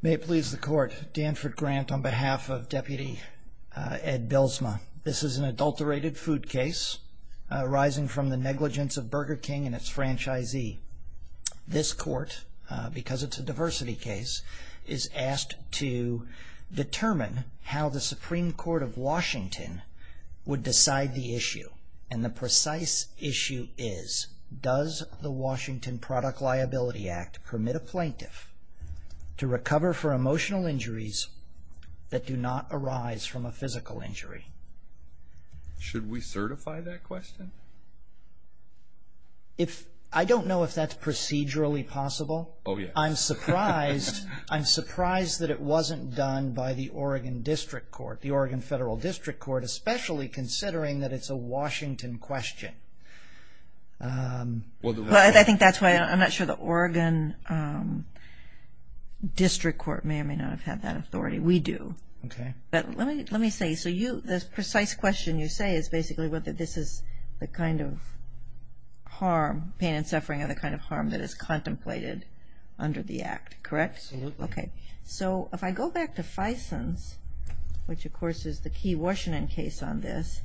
May it please the court, Danford Grant on behalf of Deputy Ed Bylsma. This is an adulterated food case arising from the negligence of Burger King and its franchisee. This court, because it's a diversity case, is asked to determine how the Supreme Court of Washington would decide the issue. And the precise issue is, does the Washington Product Liability Act permit a plaintiff to recover for emotional injuries that do not arise from a physical injury? Should we certify that question? If, I don't know if that's procedurally possible. Oh yeah. I'm surprised, I'm surprised that it wasn't done by the Oregon District Court, the Oregon Federal District Court, especially considering that it's a I think that's why I'm not sure the Oregon District Court may or may not have had that authority. We do. Okay. But let me let me say, so you, this precise question you say is basically whether this is the kind of harm, pain and suffering, are the kind of harm that is contemplated under the act, correct? Absolutely. Okay, so if I go back to Fison's, which of course is the key Washington case on this,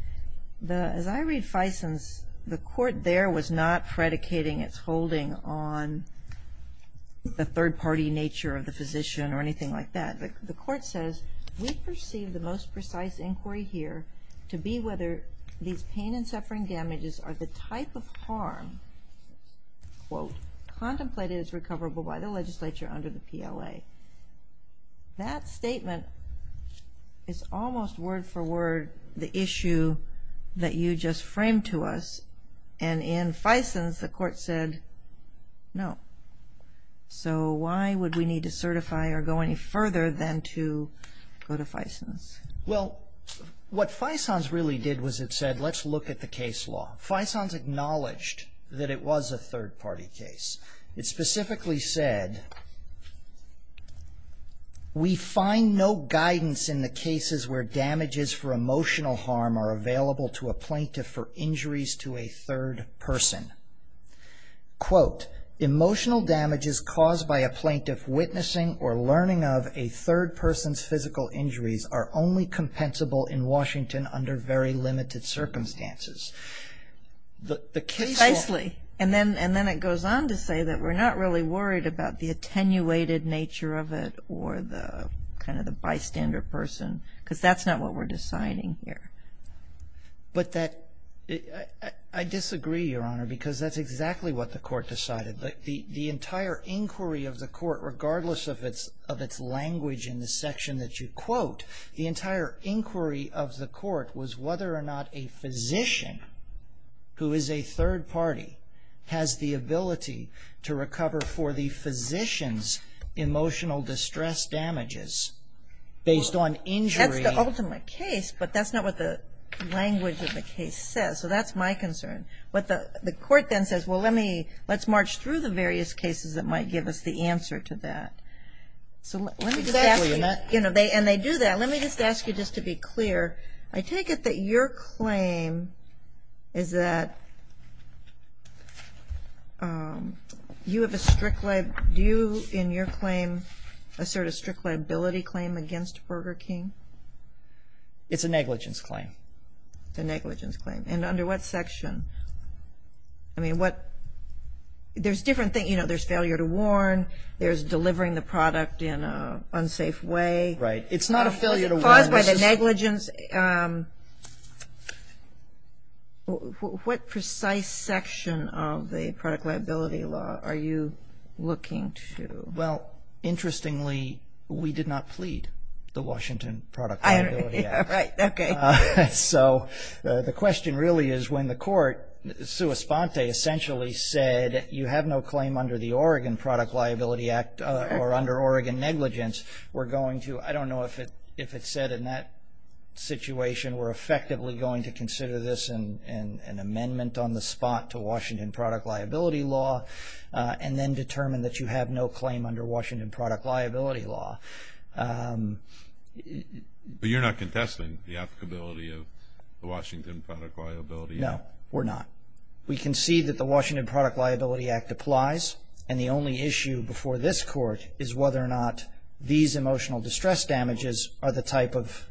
the, as I read Fison's, the court there was not predicating its holding on the third-party nature of the physician or anything like that. The court says, we perceive the most precise inquiry here to be whether these pain and suffering damages are the type of harm, quote, contemplated as recoverable by the legislature under the PLA. That statement is almost word-for-word the issue that you just framed to us and in Fison's the court said no. So why would we need to certify or go any further than to go to Fison's? Well what Fison's really did was it said let's look at the case law. Fison's acknowledged that it was a third-party case. It specifically said, we find no guidance in the cases where damages for emotional harm are available to a plaintiff for injuries to a third person. Quote, emotional damages caused by a plaintiff witnessing or learning of a third person's physical injuries are only compensable in And then it goes on to say that we're not really worried about the attenuated nature of it or the kind of the bystander person because that's not what we're deciding here. But that, I disagree, Your Honor, because that's exactly what the court decided. The entire inquiry of the court, regardless of its language in the section that you quote, the entire inquiry of the court was whether or not a has the ability to recover for the physician's emotional distress damages based on injury. That's the ultimate case, but that's not what the language of the case says. So that's my concern. What the court then says, well let me, let's march through the various cases that might give us the answer to that. So let me just ask you, you know, and they do that. Let me just ask you just to be clear. I take it that your claim is that you have a strict, do you, in your claim, assert a strict liability claim against Burger King? It's a negligence claim. It's a negligence claim. And under what section? I mean, what, there's different things, you know, there's failure to warn, there's delivering the product in an unsafe way. Right. It's not a failure to warn. It's caused by the negligence. What precise section of the product liability law are you looking to? Well, interestingly, we did not plead the Washington Product Liability Act. Right. Okay. So the question really is when the court, sua sponte, essentially said you have no claim under the Oregon Product Liability Act or under Oregon negligence, we're in that situation, we're effectively going to consider this an amendment on the spot to Washington Product Liability Law and then determine that you have no claim under Washington Product Liability Law. But you're not contesting the applicability of the Washington Product Liability Act? No, we're not. We concede that the Washington Product Liability Act applies, and the only issue before this court is whether or not these emotional distress damages are the type of...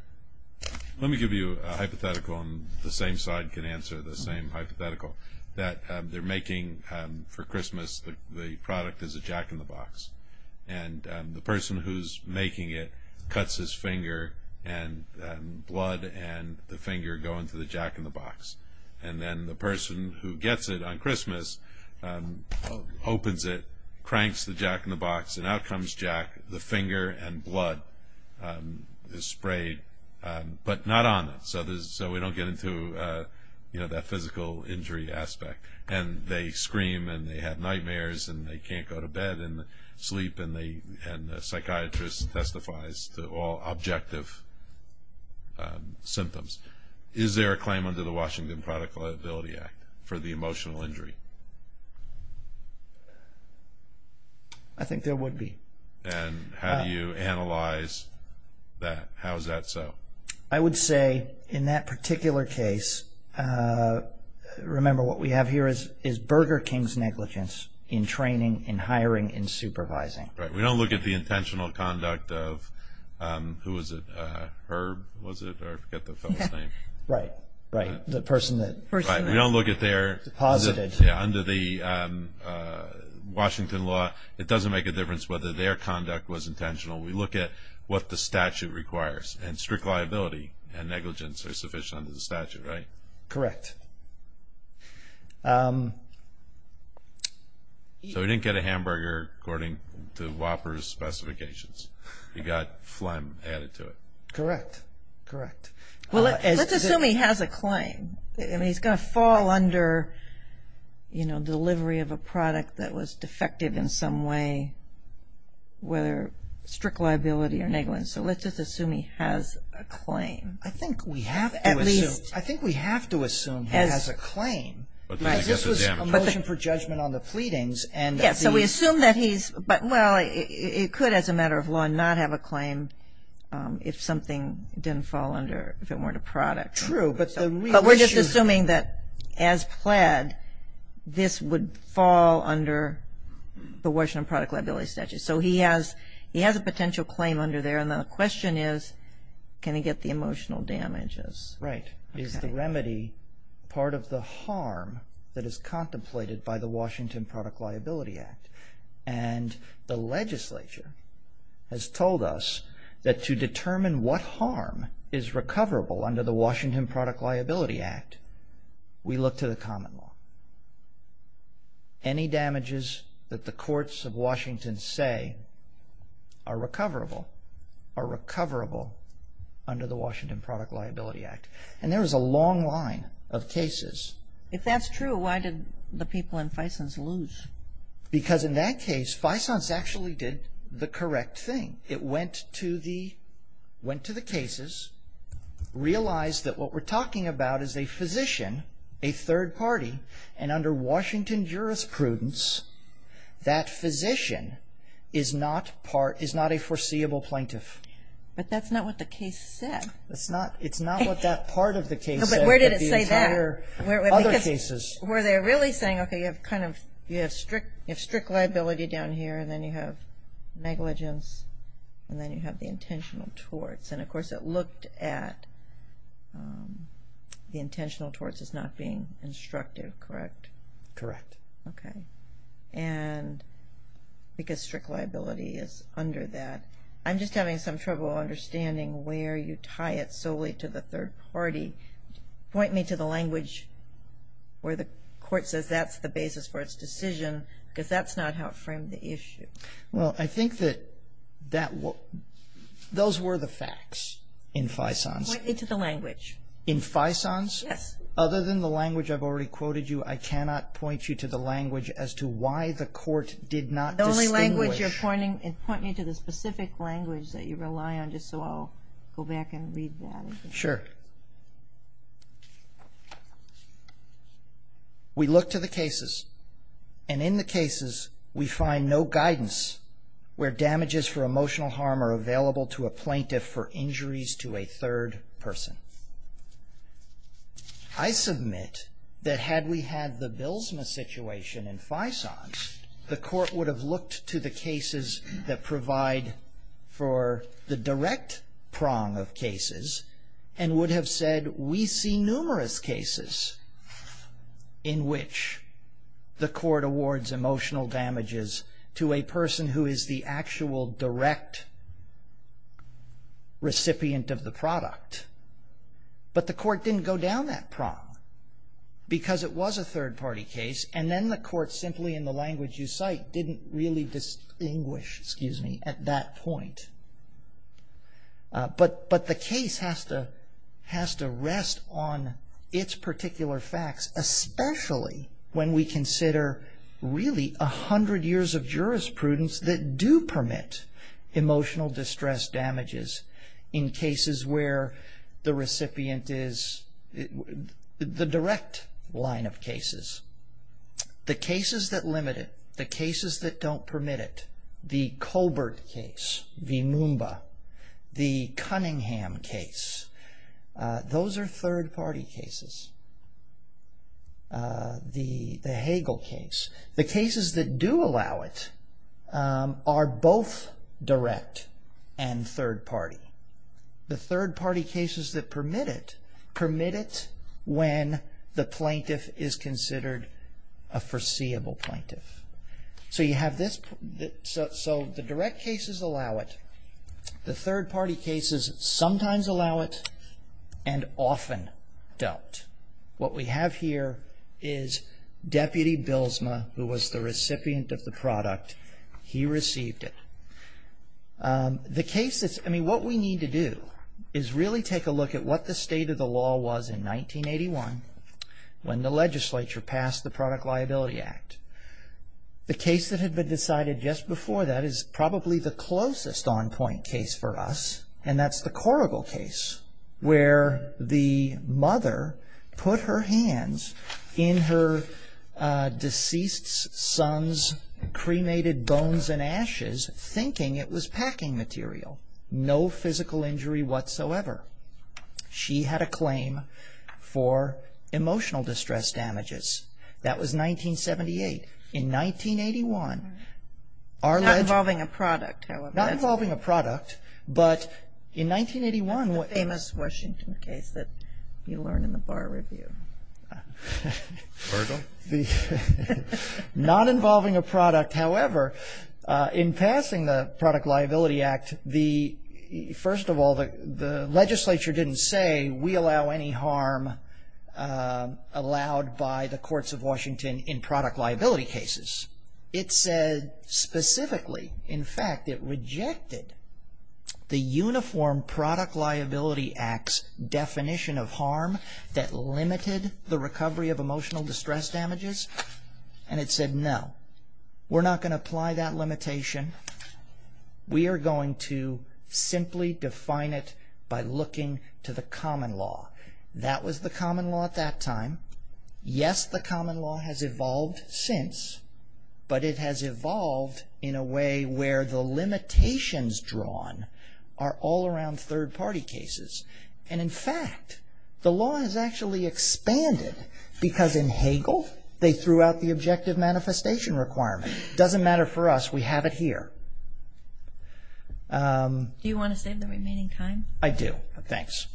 Let me give you a hypothetical, and the same side can answer the same hypothetical, that they're making, for Christmas, the product as a jack-in-the-box. And the person who's making it cuts his finger, and blood and the finger go into the jack-in-the-box. And then the person who gets it on Christmas opens it, cranks the jack-in-the-box, and out comes Jack, the finger and blood is sprayed, but not on it, so we don't get into that physical injury aspect. And they scream, and they have nightmares, and they can't go to bed and sleep, and the psychiatrist testifies to all objective symptoms. Is there a claim under the Washington Product Liability Act for the emotional injury? I think there would be. And how do you analyze that? How is that so? I would say, in that particular case, remember what we have here is Burger King's negligence in training, in hiring, in supervising. Right. We don't look at the intentional conduct of, who was it, Herb, was it? I forget the fellow's name. Right. Right. The person that... Right. We don't look at their... Deposited. Yeah. Under the Washington law, it doesn't make a difference whether their conduct was intentional. We look at what the statute requires, and strict liability and negligence are sufficient under the statute, right? Correct. So he didn't get a hamburger, according to Whopper's specifications. He got phlegm added to it. Correct. Correct. Well, let's assume he has a claim. I mean, he's going to fall under, you know, delivery of a product that was defective in some way, whether strict liability or negligence. So let's just assume he has a claim. I think we have to assume he has a claim, because this was a motion for judgment on the pleadings, and... Yeah. So we assume that he's... Well, it could, as a matter of law, not have a claim if something didn't fall under, if it weren't a product. True, but the real issue... But we're just assuming that, as pled, this would fall under the Washington Product Liability Statute. So he has a potential claim under there, and the question is, can he get the emotional damages? Right. Is the remedy part of the harm that is contemplated by the Washington The legislature has told us that to determine what harm is recoverable under the Washington Product Liability Act, we look to the common law. Any damages that the courts of Washington say are recoverable are recoverable under the Washington Product Liability Act, and there is a long line of cases. If that's true, why did the people in FISONS lose? Because in that case, FISONS actually did the correct thing. It went to the cases, realized that what we're talking about is a physician, a third party, and under Washington jurisprudence, that physician is not a foreseeable plaintiff. But that's not what the case said. It's not what that part of the case said, but the entire other cases. Were they really saying, okay, you have strict liability down here, and then you have negligence, and then you have the intentional torts, and of course, it looked at the intentional torts as not being instructive, correct? Correct. Okay. And because strict liability is under that, I'm just having some trouble understanding where you tie it solely to the third party. Point me to the language where the court says that's the basis for its decision, because that's not how it framed the issue. Well, I think that those were the facts in FISONS. Point me to the language. In FISONS? Yes. Other than the language I've already quoted you, I cannot point you to the language as to why the court did not distinguish. The only language you're pointing, point me to the specific language that you rely on, just so I'll go back and read that again. Sure. We look to the cases, and in the cases, we find no guidance where damages for emotional harm are available to a plaintiff for injuries to a third person. I submit that had we had the BILSMA situation in FISONS, the court would have looked to the cases that provide for the direct prong of cases, and would have said, we see numerous cases in which the court awards emotional damages to a person who is the actual direct recipient of the product. But the court didn't go down that prong, because it was a third party case, and then the court, simply in the language you cite, didn't really distinguish, excuse me, at that point. But the case has to rest on its particular facts, especially when we consider, really, a hundred years of jurisprudence that do permit emotional distress damages in cases where the recipient is the direct line of cases. The cases that limit it, the cases that don't permit it, the Colbert case, the Moomba, the Cunningham case, those are third party cases, the Hagel case. The cases that do allow it are both direct and third party. The third party cases that permit it, permit it when the plaintiff is considered a foreseeable plaintiff. So you have this, so the direct cases allow it, the third party cases sometimes allow it, and often don't. What we have here is Deputy Bilsma, who was the recipient of the product. He received it. The case that's, I mean, what we need to do is really take a look at what the state of the law was in 1981, when the legislature passed the Product Liability Act. The case that had been decided just before that is probably the closest on point case for us, and that's the Korogel case, where the mother put her hands in her deceased son's cremated bones and ashes thinking it was packing material, no physical injury whatsoever. She had a claim for emotional distress damages. That was 1978. In 1981, our legislation Not involving a product, however. Not involving a product, but in 1981 That's the famous Washington case that you learn in the bar review. Korogel? Not involving a product, however, in passing the Product Liability Act, the, first of all, the legislature didn't say we allow any harm allowed by the courts of Washington in product liability cases. It said specifically, in fact, it rejected the Uniform Product Liability Act's definition of harm that limited the recovery of emotional distress damages, and it said, no, we're not going to apply that limitation. We are going to simply define it by looking to the common law. That was the common law at that time. Yes, the common law has evolved since, but it has evolved in a way where the limitations drawn are all around third party cases. And in fact, the law has actually expanded because in Hagel, they threw out the objective manifestation requirement. Doesn't matter for us, we have it here. Do you want to save the remaining time? I do, thanks.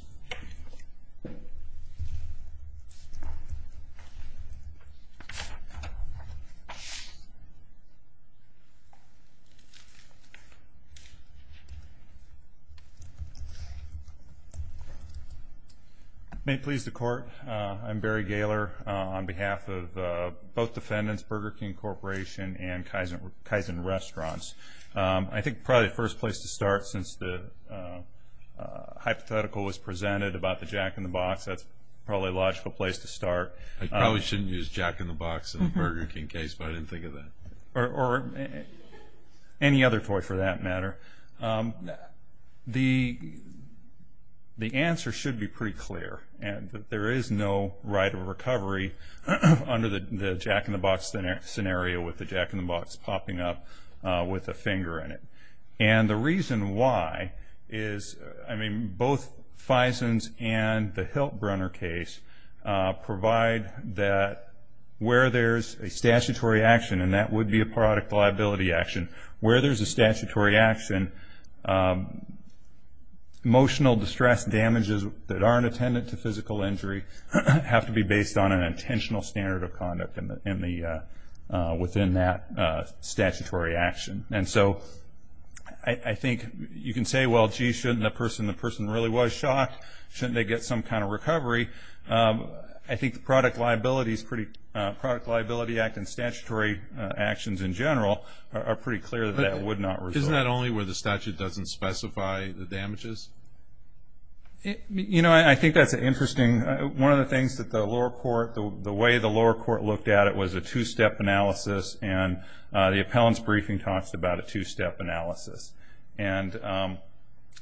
May it please the court, I'm Barry Gaylor on behalf of both defendants, Burger King Corporation and Kaizen Restaurants. I think probably the first place to start since the hypothetical was presented about the jack-in-the-box, that's probably a logical place to start. I probably shouldn't use jack-in-the-box in the Burger King case, but I didn't think of that. Or any other toy for that matter. The answer should be pretty clear, and that there is no right of recovery under the jack-in-the-box scenario with the jack-in-the-box popping up with a finger in it. And the reason why is, I mean, both Faison's and the Hilt-Brunner case provide that where there's a statutory action, and that would be a product liability action, where there's a statutory action, emotional distress damages that aren't attendant to physical injury have to be based on an intentional standard of conduct within that statutory action. And so I think you can say, well, gee, shouldn't the person, the person really was shocked, shouldn't they get some kind of recovery? I think the product liability act and statutory actions in general are pretty clear that that would not result. Isn't that only where the statute doesn't specify the damages? You know, I think that's an interesting, one of the things that the lower court, the way the lower court looked at it was a two-step analysis, and the appellant's briefing talks about a two-step analysis. And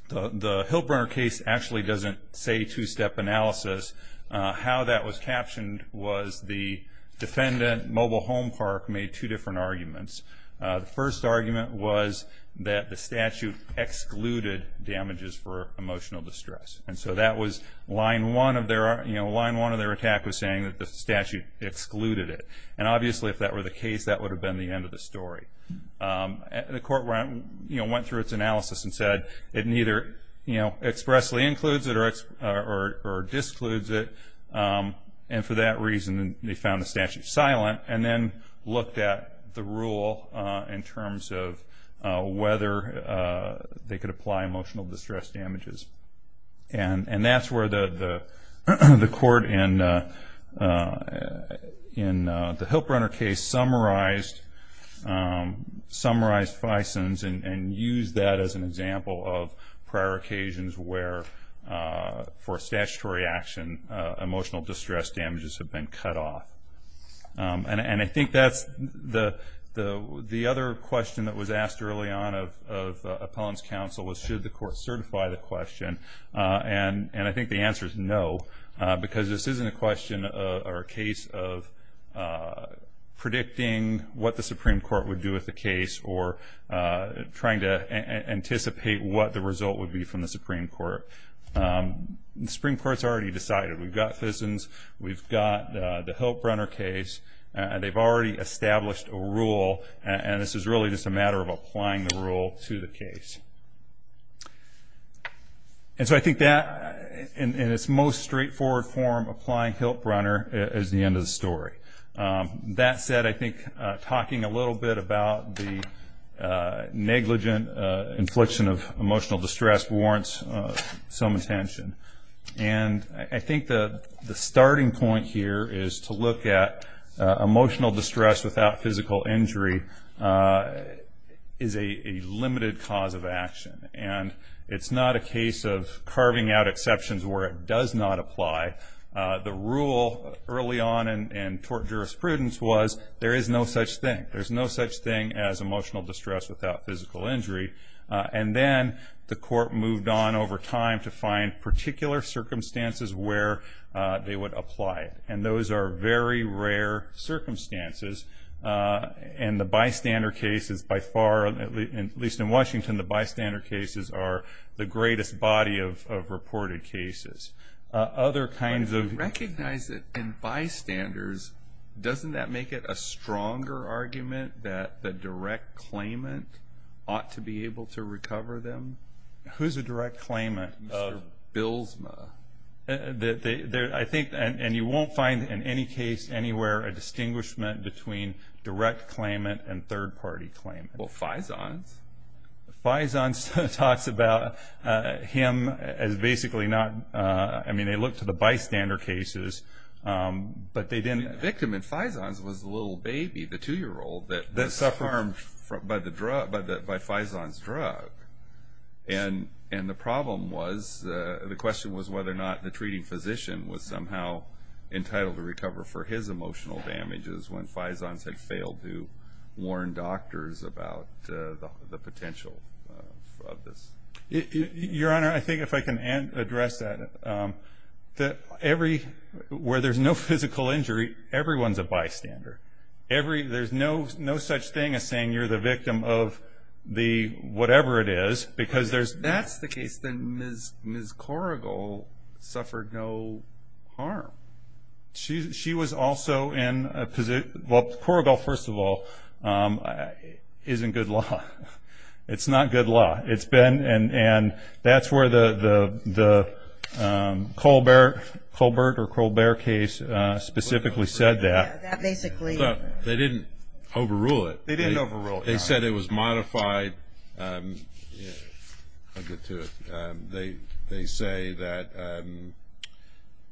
the Hilt-Brunner case actually doesn't say two-step analysis. How that was captioned was the defendant, Mobile Home Park, made two different arguments. The first argument was that the statute excluded damages for emotional distress. And so that was line one of their, you know, line one of their attack was saying that the statute excluded it. And obviously, if that were the case, that would have been the end of the story. And the court went, you know, went through its analysis and said, it neither, you know, expressly includes it or excludes it. And for that reason, they found the statute silent and then looked at the rule in terms of whether they could apply emotional distress damages. And that's where the court in the Hilt-Brunner case summarized Fison's and used that as an example of prior occasions where for statutory action, emotional distress damages have been cut off. And I think that's the other question that was asked early on of appellant's counsel was should the court certify the question. And I think the answer is no, because this isn't a question or a case of predicting what the Supreme Court would do with the case or trying to anticipate what the result would be from the Supreme Court. The Supreme Court's already decided. We've got Fison's. We've got the Hilt-Brunner case. And they've already established a rule. And this is really just a matter of applying the rule to the case. And so I think that, in its most straightforward form, applying Hilt-Brunner is the end of the story. That said, I think talking a little bit about the negligent infliction of emotional distress warrants some attention. And I think the starting point here is to look at emotional distress without physical injury is a limited cause of action. And it's not a case of carving out exceptions where it does not apply. The rule early on in tort jurisprudence was there is no such thing. There's no such thing as emotional distress without physical injury. And then the court moved on over time to find particular circumstances where they would apply it. And those are very rare circumstances. And the bystander cases, by far, at least in Washington, the bystander cases are the greatest body of reported cases. Other kinds of- I recognize that in bystanders, doesn't that make it a stronger argument that the direct claimant ought to be able to recover them? Who's a direct claimant? Billsma. I think, and you won't find in any case anywhere a distinguishment between direct claimant and third-party claimant. Well, Faison's. Faison's talks about him as basically not, I mean, they look to the bystander cases, but they didn't- The victim in Faison's was the little baby, the two-year-old, that was harmed by Faison's drug. And the problem was, the question was whether or not the treating physician was somehow entitled to recover for his emotional damages when Faison's had failed to warn doctors about the potential of this. Your Honor, I think if I can address that, that where there's no physical injury, everyone's a bystander. There's no such thing as saying you're the victim of the whatever it is, because there's- If that's the case, then Ms. Korogel suffered no harm. She was also in a position- Well, Korogel, first of all, is in good law. It's not good law. It's been, and that's where the Colbert or Colbert case specifically said that. That basically- They didn't overrule it. They didn't overrule it, Your Honor. They said it was modified. I'll get to it. They say that-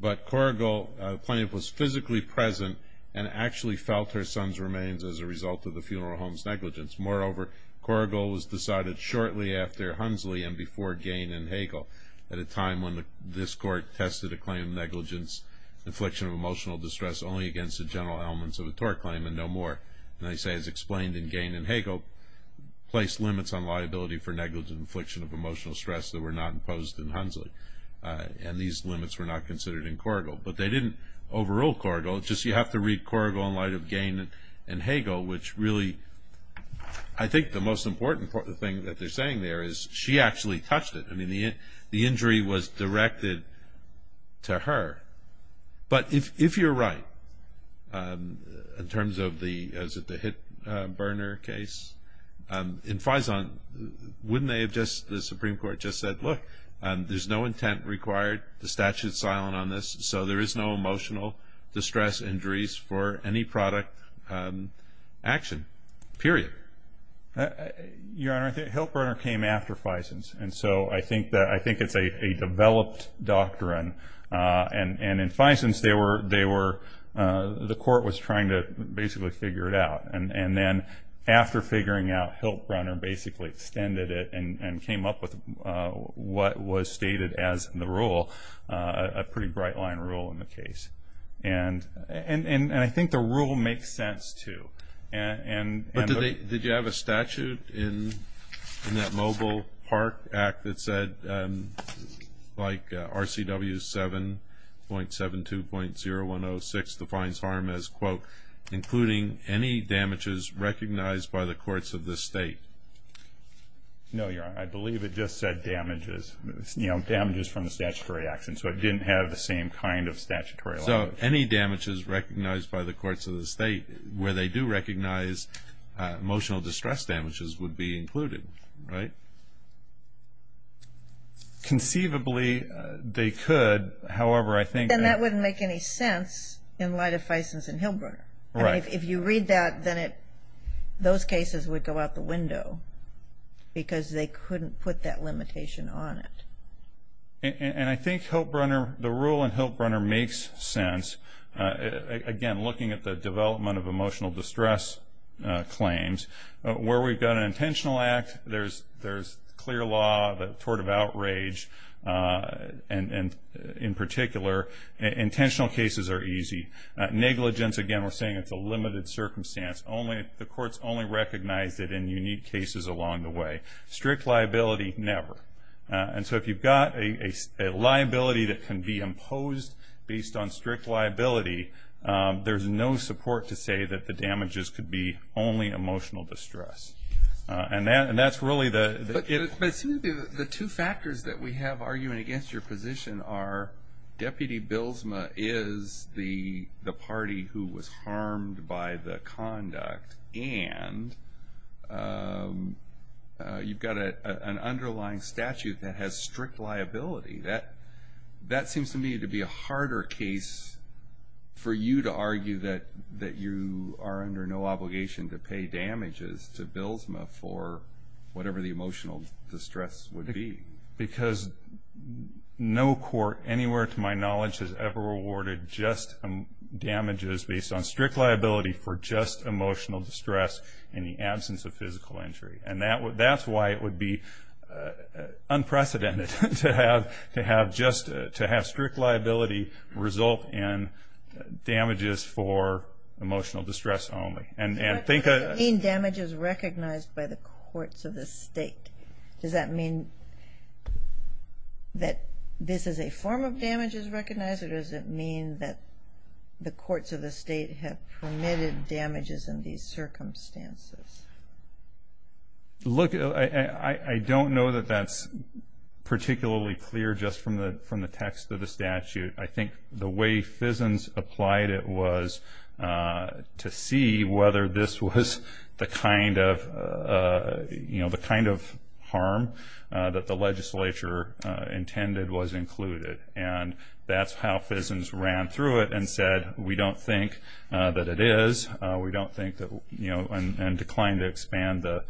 But Korogel, plaintiff, was physically present and actually felt her son's remains as a result of the funeral home's negligence. Moreover, Korogel was decided shortly after Hunsley and before Gane and Hagel at a time when this court tested a claim of negligence, infliction of emotional distress only against the general elements of a tort claim, and no more. And they say, as explained in Gane and Hagel, placed limits on liability for negligent infliction of emotional stress that were not imposed in Hunsley. And these limits were not considered in Korogel. But they didn't overrule Korogel. Just you have to read Korogel in light of Gane and Hagel, which really, I think the most important thing that they're saying there is she actually touched it. I mean, the injury was directed to her. But if you're right, in terms of the, is it the Hilt-Berner case? In Fison, wouldn't they have just, the Supreme Court just said, look, there's no intent required. The statute's silent on this. So there is no emotional distress injuries for any product action, period. Your Honor, Hilt-Berner came after Fison's. And so I think it's a developed doctrine. And in Fison's, they were, the court was trying to basically figure it out. And then after figuring out Hilt-Berner, basically extended it and came up with what was stated as the rule, a pretty bright line rule in the case. And I think the rule makes sense, too. Did you have a statute in that Mobile Park Act that said, like RCW 7.72.0106 defines harm as, quote, including any damages recognized by the courts of the state? No, Your Honor, I believe it just said damages. You know, damages from the statutory action. So it didn't have the same kind of statutory language. So any damages recognized by the courts of the state where they do recognize emotional distress damages would be included, right? Conceivably, they could. However, I think that- Then that wouldn't make any sense in light of Fison's and Hilt-Berner. Right. If you read that, then it, those cases would go out the window because they couldn't put that limitation on it. And I think Hilt-Berner, the rule in Hilt-Berner makes sense. Again, looking at the development of emotional distress claims, where we've got an intentional act, there's clear law, the tort of outrage, and in particular, intentional cases are easy. Negligence, again, we're saying it's a limited circumstance. The courts only recognize it in unique cases along the way. Strict liability, never. And so if you've got a liability that can be imposed based on strict liability, there's no support to say that the damages could be only emotional distress. And that's really the- But it seems to be the two factors that we have arguing against your position are Deputy Bilsma is the party who was harmed by the conduct and you've got an underlying statute that has strict liability. That seems to me to be a harder case for you to argue that you are under no obligation to pay damages to Bilsma for whatever the emotional distress would be. Because no court anywhere to my knowledge has ever awarded just damages based on strict liability for just emotional distress in the absence of physical injury. And that's why it would be unprecedented to have strict liability result in damages for emotional distress only. And think of- You mean damages recognized by the courts of the state. Does that mean that this is a form of damages recognized or does it mean that the courts of the state have permitted damages in these circumstances? Look, I don't know that that's particularly clear just from the text of the statute. I think the way Fissons applied it was to see whether this was the kind of harm that the legislature intended was included. And that's how Fissons ran through it and said, we don't think that it is. We don't think that- And declined to expand the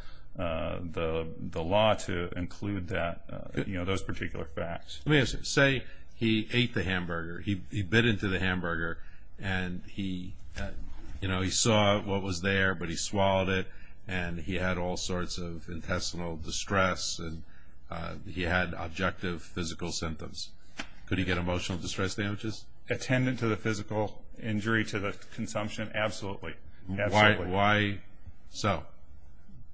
law to include that, those particular facts. Let me ask you, say he ate the hamburger, he bit into the hamburger and he saw what was there, but he swallowed it and he had all sorts of intestinal distress and he had objective physical symptoms. Could he get emotional distress damages? Attendant to the physical injury, to the consumption? Absolutely, absolutely. Why so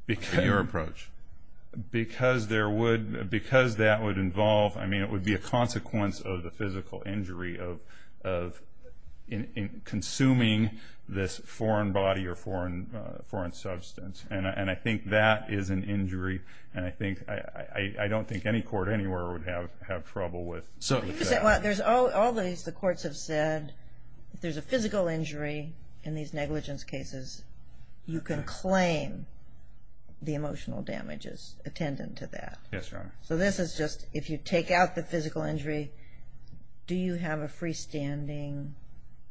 in your approach? Because there would, because that would involve, I mean, it would be a consequence of the physical injury of consuming this foreign body or foreign substance. And I think that is an injury. And I think, I don't think any court anywhere would have trouble with that. There's all these, the courts have said, if there's a physical injury in these negligence cases, you can claim the emotional damages attendant to that. Yes, Your Honor. So this is just, if you take out the physical injury, do you have a freestanding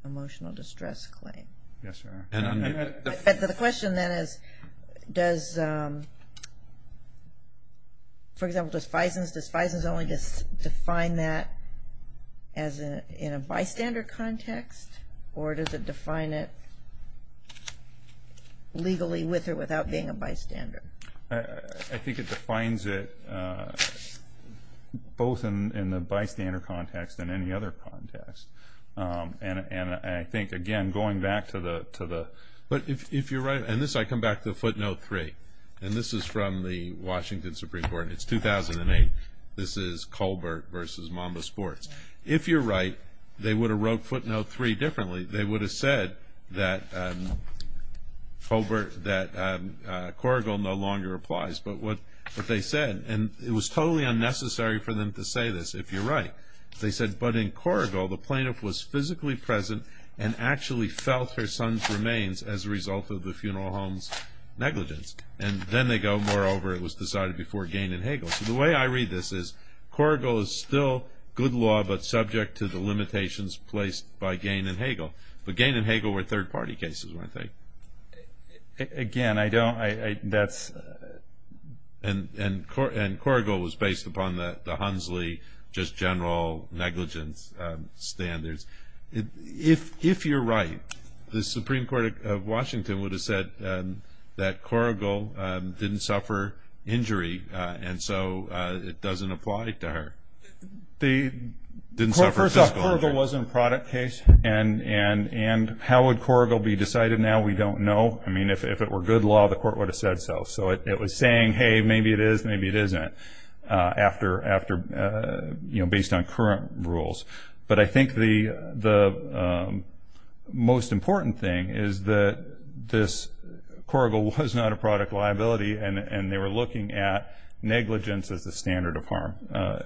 emotional distress claim? Yes, Your Honor. And the question then is, does, for example, does FISNs only define that as in a bystander context? Or does it define it legally with or without being a bystander? I think it defines it both in the bystander context and any other context. And I think, again, going back to the, but if you're right, and this, I come back to footnote three. And this is from the Washington Supreme Court. It's 2008. This is Colbert versus Mamba Sports. If you're right, they would have wrote footnote three differently. They would have said that Colbert, that Corrigal no longer applies. But what they said, and it was totally unnecessary for them to say this, if you're right. They said, but in Corrigal, the plaintiff was physically present and actually felt her son's remains as a result of the funeral home's negligence. And then they go, moreover, it was decided before Gane and Hagel. So the way I read this is, Corrigal is still good law, but subject to the limitations placed by Gane and Hagel. But Gane and Hagel were third party cases, weren't they? Again, I don't, that's. And Corrigal was based upon the Hunsley, just general negligence standards. If you're right, the Supreme Court of Washington would have said that Corrigal didn't suffer injury. And so it doesn't apply to her. They didn't suffer physical injury. First off, Corrigal wasn't a product case. And how would Corrigal be decided now, we don't know. I mean, if it were good law, the court would have said so. So it was saying, hey, maybe it is, maybe it isn't. After, you know, based on current rules. But I think the most important thing is that this, Corrigal was not a product liability. And they were looking at negligence as the standard of harm.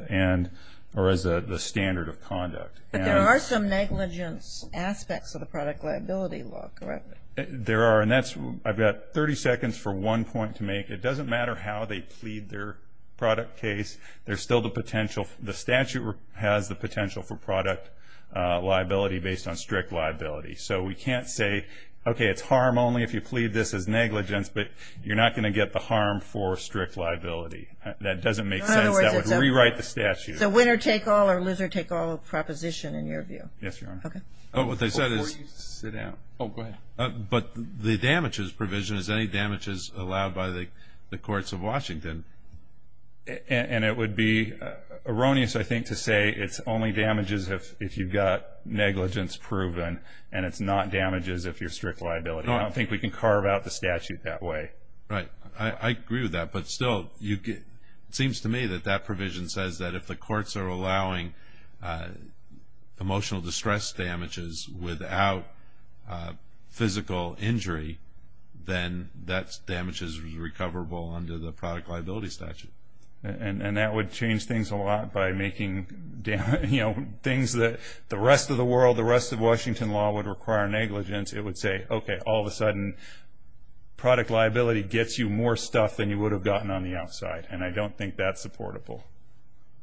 And, or as the standard of conduct. But there are some negligence aspects of the product liability law, correct? There are, and that's, I've got 30 seconds for one point to make. It doesn't matter how they plead their product case, there's still the potential, the statute has the potential for product liability based on strict liability. So we can't say, okay, it's harm only if you plead this as negligence, but you're not gonna get the harm for strict liability. That doesn't make sense, that would rewrite the statute. So winner take all or loser take all of proposition in your view? Yes, Your Honor. Oh, what they said is, sit down. Oh, go ahead. But the damages provision, is any damages allowed by the courts of Washington? And it would be erroneous, I think, to say it's only damages if you've got negligence proven, and it's not damages if you're strict liability. I don't think we can carve out the statute that way. Right, I agree with that. But still, it seems to me that that provision says that if the courts are allowing emotional distress damages without physical injury, then that damage is recoverable under the product liability statute. And that would change things a lot by making things that the rest of the world, the rest of Washington law would require negligence. It would say, okay, all of a sudden, product liability gets you more stuff than you would have gotten on the outside.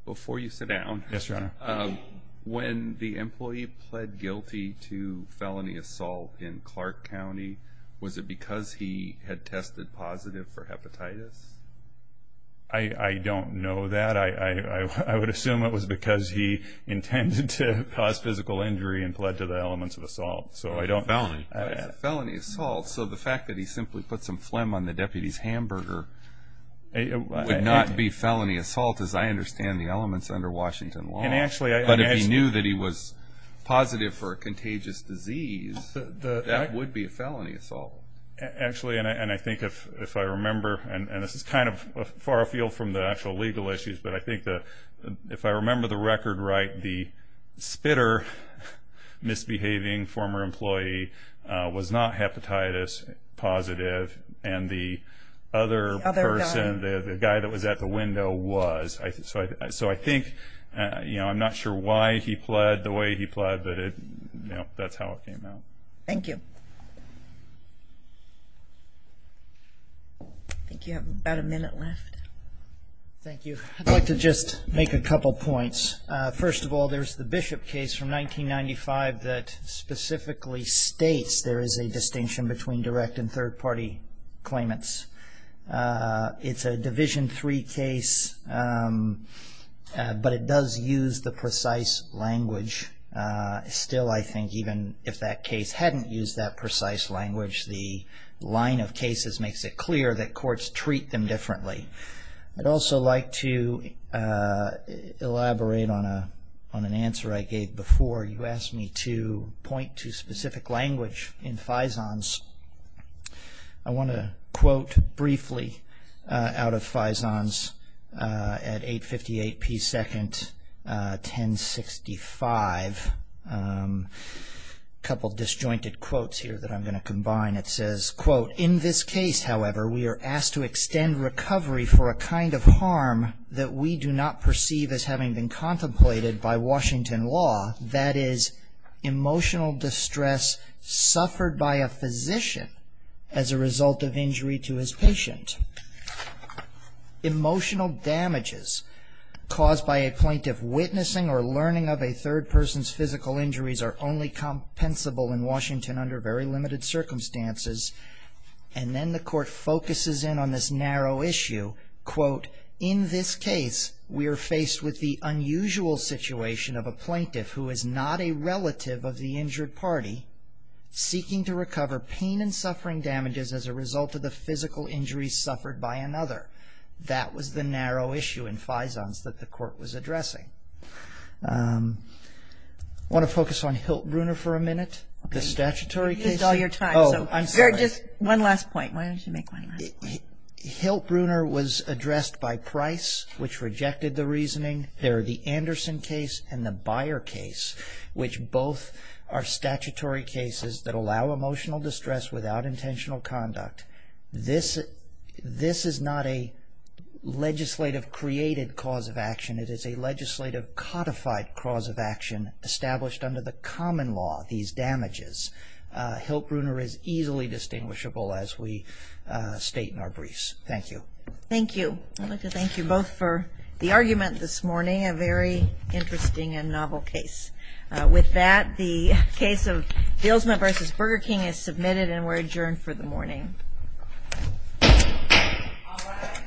Before you sit down. Yes, Your Honor. When the employee pled guilty to felony assault in Clark County, was it because he had tested positive for hepatitis? I don't know that. I would assume it was because he intended to cause physical injury and pled to the elements of assault, so I don't. Felony. Felony assault, so the fact that he simply put some phlegm on the deputy's hamburger would not be felony assault, as I understand the elements under Washington law. But if he knew that he was positive for a contagious disease, that would be a felony assault. Actually, and I think if I remember, and this is kind of far afield from the actual legal issues, but I think that if I remember the record right, the spitter misbehaving former employee was not hepatitis positive, and the other person, the guy that was at the window was. So I think, I'm not sure why he pled the way he pled, but that's how it came out. Thank you. I think you have about a minute left. Thank you. I'd like to just make a couple points. First of all, there's the Bishop case from 1995 that specifically states there is a distinction between direct and third party claimants. It's a Division III case, but it does use the precise language. Still, I think even if that case hadn't used that precise language, the line of cases makes it clear that courts treat them differently. I'd also like to elaborate on an answer I gave before. You asked me to point to specific language in FISONs. I want to quote briefly out of FISONs at 8.58 p.s. 10.65. Couple disjointed quotes here that I'm going to combine. It says, quote, in this case, however, we are asked to extend recovery for a kind of harm that we do not perceive as having been contemplated by Washington law, that is, emotional distress suffered by a physician as a result of injury to his patient. Emotional damages caused by a plaintiff witnessing or learning of a third person's physical injuries are only compensable in Washington under very limited circumstances. And then the court focuses in on this narrow issue. Quote, in this case, we are faced with the unusual situation of a plaintiff who is not a relative of the injured party seeking to recover pain and suffering damages as a result of the physical injuries suffered by another. That was the narrow issue in FISONs that the court was addressing. Want to focus on Hilt Bruner for a minute? The statutory case? You used all your time, so just one last point. Why don't you make one last point? Hilt Bruner was addressed by Price, which rejected the reasoning. There are the Anderson case and the Byer case, which both are statutory cases that allow emotional distress without intentional conduct. This is not a legislative created cause of action. It is a legislative codified cause of action established under the common law, these damages. Hilt Bruner is easily distinguishable as we state in our briefs. Thank you. Thank you. I'd like to thank you both for the argument this morning, a very interesting and novel case. With that, the case of Dilsma v. Burger King is submitted and we're adjourned for the morning. All rise.